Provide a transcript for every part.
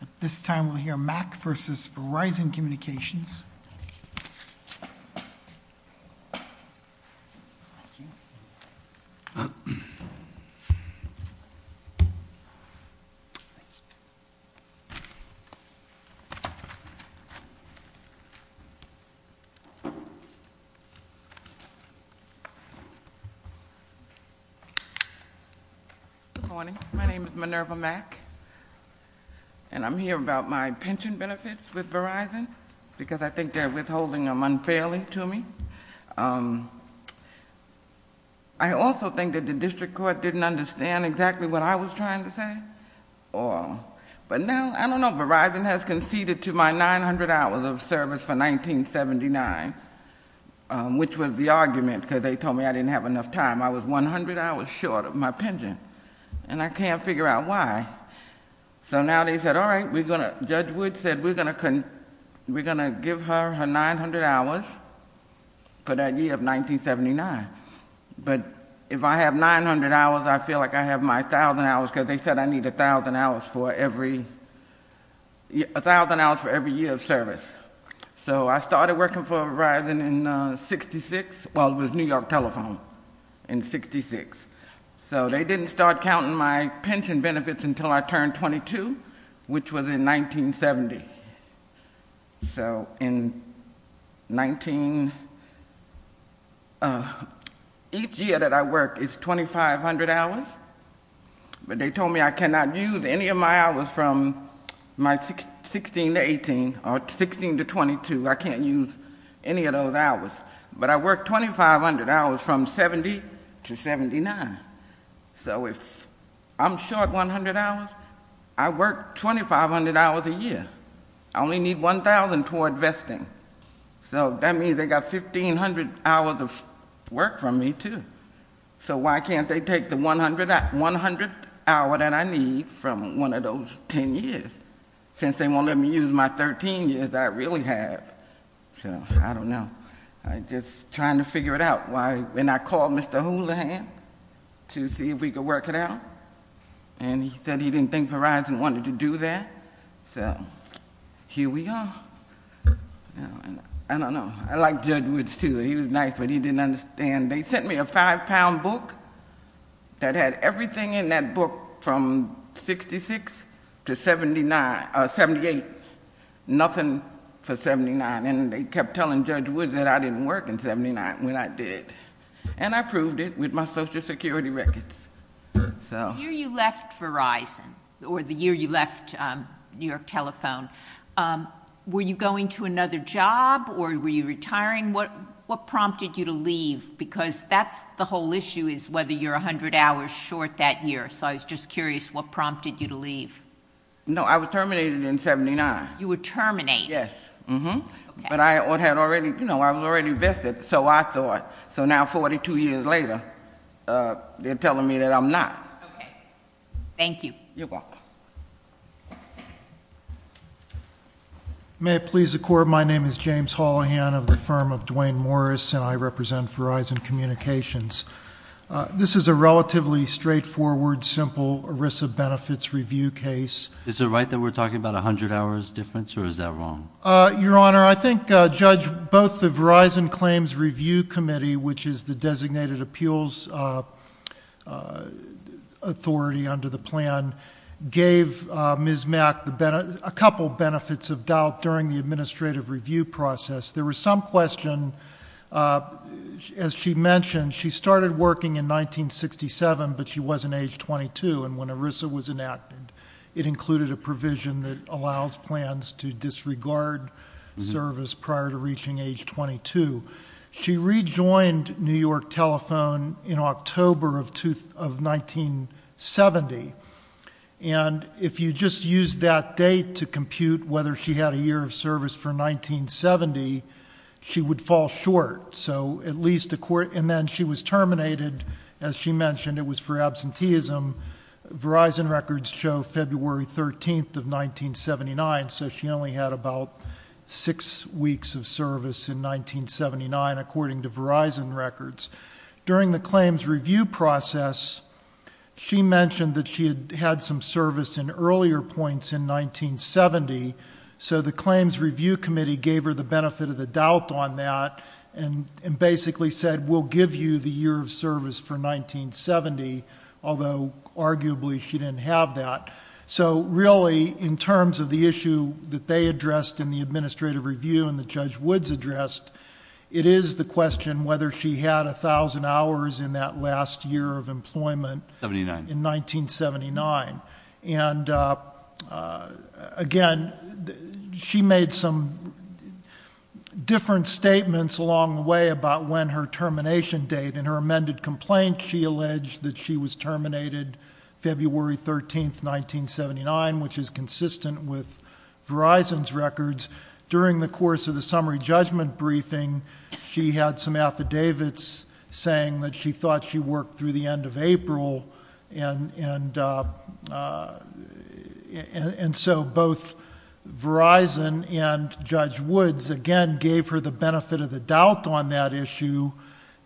At this time we'll hear Mac v. Verizon Communications. Good morning. My name is Minerva Mack and I'm here about my pension benefits with Verizon because I think they're withholding them unfairly to me. I also think that the district court didn't understand exactly what I was trying to say. But now, I don't know, Verizon has conceded to my 900 hours of service for 1979, which was the argument because they told me I didn't have enough time. I was 100 hours short of my pension. And I can't figure out why. So now they said, all right, we're going to, Judge Wood said, we're going to give her her 900 hours for that year of 1979. But if I have 900 hours, I feel like I have my 1,000 hours because they said I need 1,000 hours for every, 1,000 hours for every year of service. So I started working for Verizon in 66, well, it was New York Telephone in 66. So they didn't start counting my pension benefits until I turned 22, which was in 1970. So in 19, each year that I work is 2,500 hours. But they told me I cannot use any of my hours from my 16 to 18 or 16 to 22. I can't use any of those hours. But I work 2,500 hours from 70 to 79. So if I'm short 100 hours, I work 2,500 hours a year. I only need 1,000 toward vesting. So that means they got 1,500 hours of work from me, too. So why can't they take the 100th hour that I need from one of those 10 years since they won't let me use my 13 years that I really have? So I don't know. I'm just trying to figure it out. And I called Mr. Houlihan to see if we could work it out. And he said he didn't think Verizon wanted to do that. So here we are. I don't know. I like Judge Woods, too. He was nice, but he didn't understand. They sent me a five-pound book that had everything in that book from 66 to 78, nothing for 79. And they kept telling Judge Woods that I didn't work in 79 when I did. And I proved it with my Social Security records. The year you left Verizon, or the year you left New York Telephone, were you going to get a job? No. And the question I'm going to ask you is whether you're 100 hours short that year. So I was just curious what prompted you to leave. No, I was terminated in 79. You were terminated? Yes. Okay. But I was already vested, so I thought. So now 42 years later, they're telling me that I'm not. Okay. Thank you. You're welcome. May it please the Court, my name is James Houlihan of the firm of Duane Morris, and I represent the board of Verizon Communications. This is a relatively straightforward, simple ERISA benefits review case. Is it right that we're talking about a 100 hours difference, or is that wrong? Your Honor, I think Judge, both the Verizon Claims Review Committee, which is the designated appeals authority under the plan, gave Ms. Mack a couple benefits of doubt during the process. As she mentioned, she started working in 1967, but she was in age 22, and when ERISA was enacted, it included a provision that allows plans to disregard service prior to reaching age 22. She rejoined New York Telephone in October of 1970, and if you just use that date to compute whether she had a year of service for 1970, she would fall short. And then she was terminated, as she mentioned, it was for absenteeism. Verizon records show February 13th of 1979, so she only had about six weeks of service in 1979, according to Verizon records. During the claims review process, she mentioned that she had had some service in earlier points in 1970, so the claims review committee gave her the benefit of the doubt on that and basically said, we'll give you the year of service for 1970, although arguably she didn't have that. Really, in terms of the issue that they addressed in the administrative review and the Judge Woods addressed, it is the question whether she had 1,000 hours in that last year of employment in 1979. And again, she made some different statements along the way about when her termination date and her amended complaint. She alleged that she was terminated February 13th, 1979, which is consistent with Verizon's records. During the course of the summary judgment briefing, she had some affidavits saying that she thought she worked through the end of April, and so both Verizon and Judge Woods again gave her the benefit of the doubt on that issue,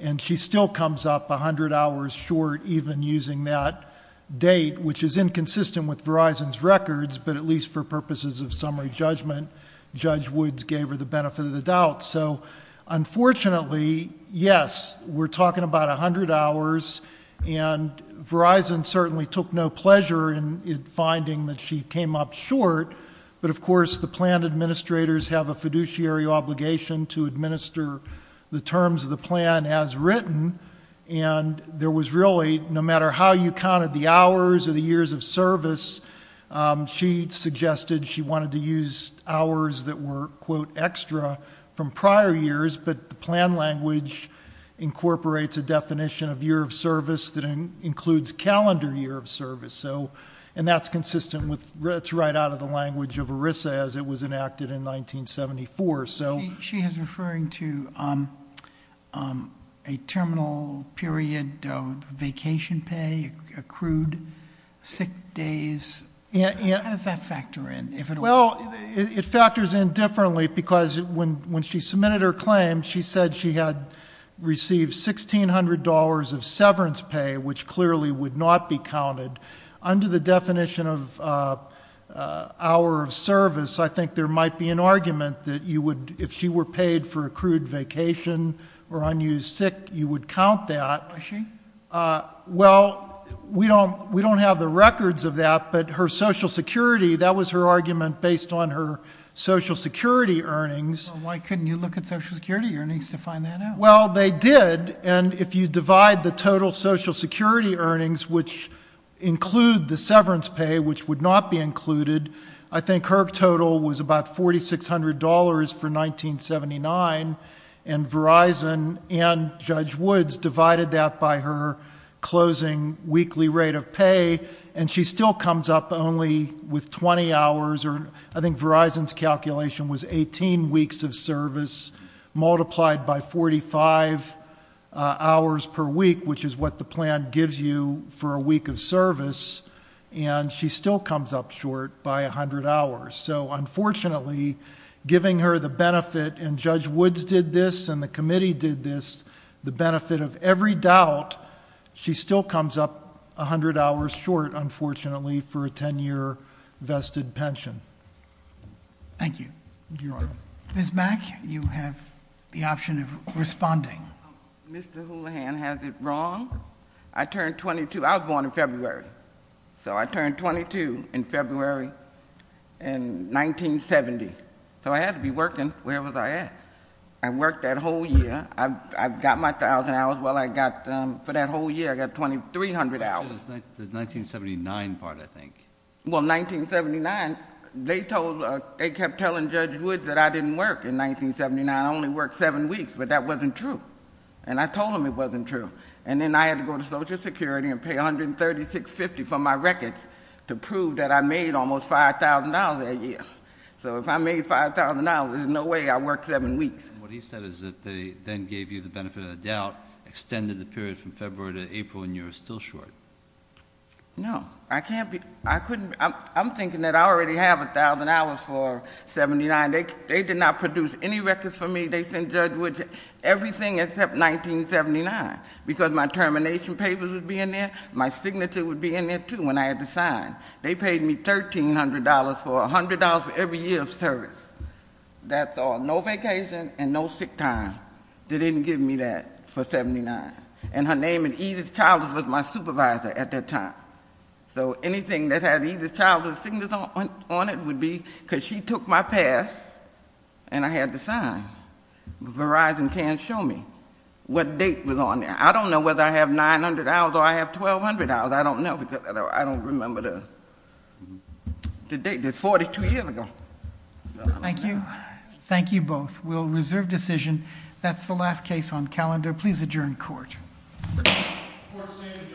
and she still comes up 100 hours short even using that date, which is inconsistent with Verizon's records, but at least for purposes of summary judgment, Judge Woods gave her the benefit of the doubt. So unfortunately, yes, we're talking about 100 hours, and Verizon certainly took no pleasure in finding that she came up short, but of course the plan administrators have a fiduciary obligation to administer the terms of the plan as written, and there was really, no matter how you counted the hours or the years of service, she suggested she wanted to use hours that were, quote, extra from prior years, but the plan language incorporates a definition of year of service that includes calendar year of service, and that's consistent with, it's right out of the language of ERISA as it was enacted in 1974. She is referring to a terminal period of vacation pay, accrued sick days. How does that factor in? Well, it factors in differently because when she submitted her claim, she said she had received $1,600 of severance pay, which clearly would not be counted. Under the definition of hour of service, I think there might be an argument that you would, if she were paid for accrued vacation or unused sick, you would count that. Was she? Well, we don't have the records of that, but her Social Security, that was her argument based on her Social Security earnings. Well, why couldn't you look at Social Security earnings to find that out? Well, they did, and if you divide the total Social Security earnings, which include the severance pay, which would not be included, I think her total was about $4,600 for 1979, and Verizon and Judge Woods divided that by her closing weekly rate of pay, and she still comes up only with 20 hours, or I think Verizon's calculation was 18 weeks of service multiplied by 45 hours per week, which is what the plan gives you for a week of service, and she still comes up short by 100 hours. So, unfortunately, giving her the benefit, and Judge Woods did this, and the committee did this, the benefit of every doubt, she still comes up 100 hours short, unfortunately, for a 10-year vested pension. Thank you. Thank you, Your Honor. Ms. Mack, you have the option of responding. Mr. Houlihan has it wrong. I turned 22. I was born in February, so I turned 22 in February in 1970, so I had to be working. Where was I at? I worked that whole year. I got my 1,000 hours. For that whole year, I got 2,300 hours. The 1979 part, I think. Well, 1979, they kept telling Judge Woods that I didn't work in 1979. I only worked seven weeks, but that wasn't true, and I told him it wasn't true, and then I had to go to Social Security and pay $136.50 for my records to prove that I made almost $5,000 that year. So if I made $5,000, there's no way I worked seven weeks. What he said is that they then gave you the benefit of the doubt, extended the period from February to April, and you were still short. No. I can't be. I couldn't. I'm thinking that I already have 1,000 hours for 1979. They did not produce any records for me. Everything except 1979, because my termination papers would be in there. My signature would be in there, too, when I had to sign. They paid me $1,300 for $100 for every year of service. That's all. No vacation and no sick time. They didn't give me that for 1979. And her name in Edith's childhood was my supervisor at that time. So anything that had Edith's childhood signature on it would be... because she took my pass, and I had to sign. Verizon can't show me what date was on there. I don't know whether I have 900 hours or I have 1,200 hours. I don't know, because I don't remember the date. That's 42 years ago. Thank you. Thank you both. We'll reserve decision. That's the last case on calendar. Please adjourn court. Court is adjourned.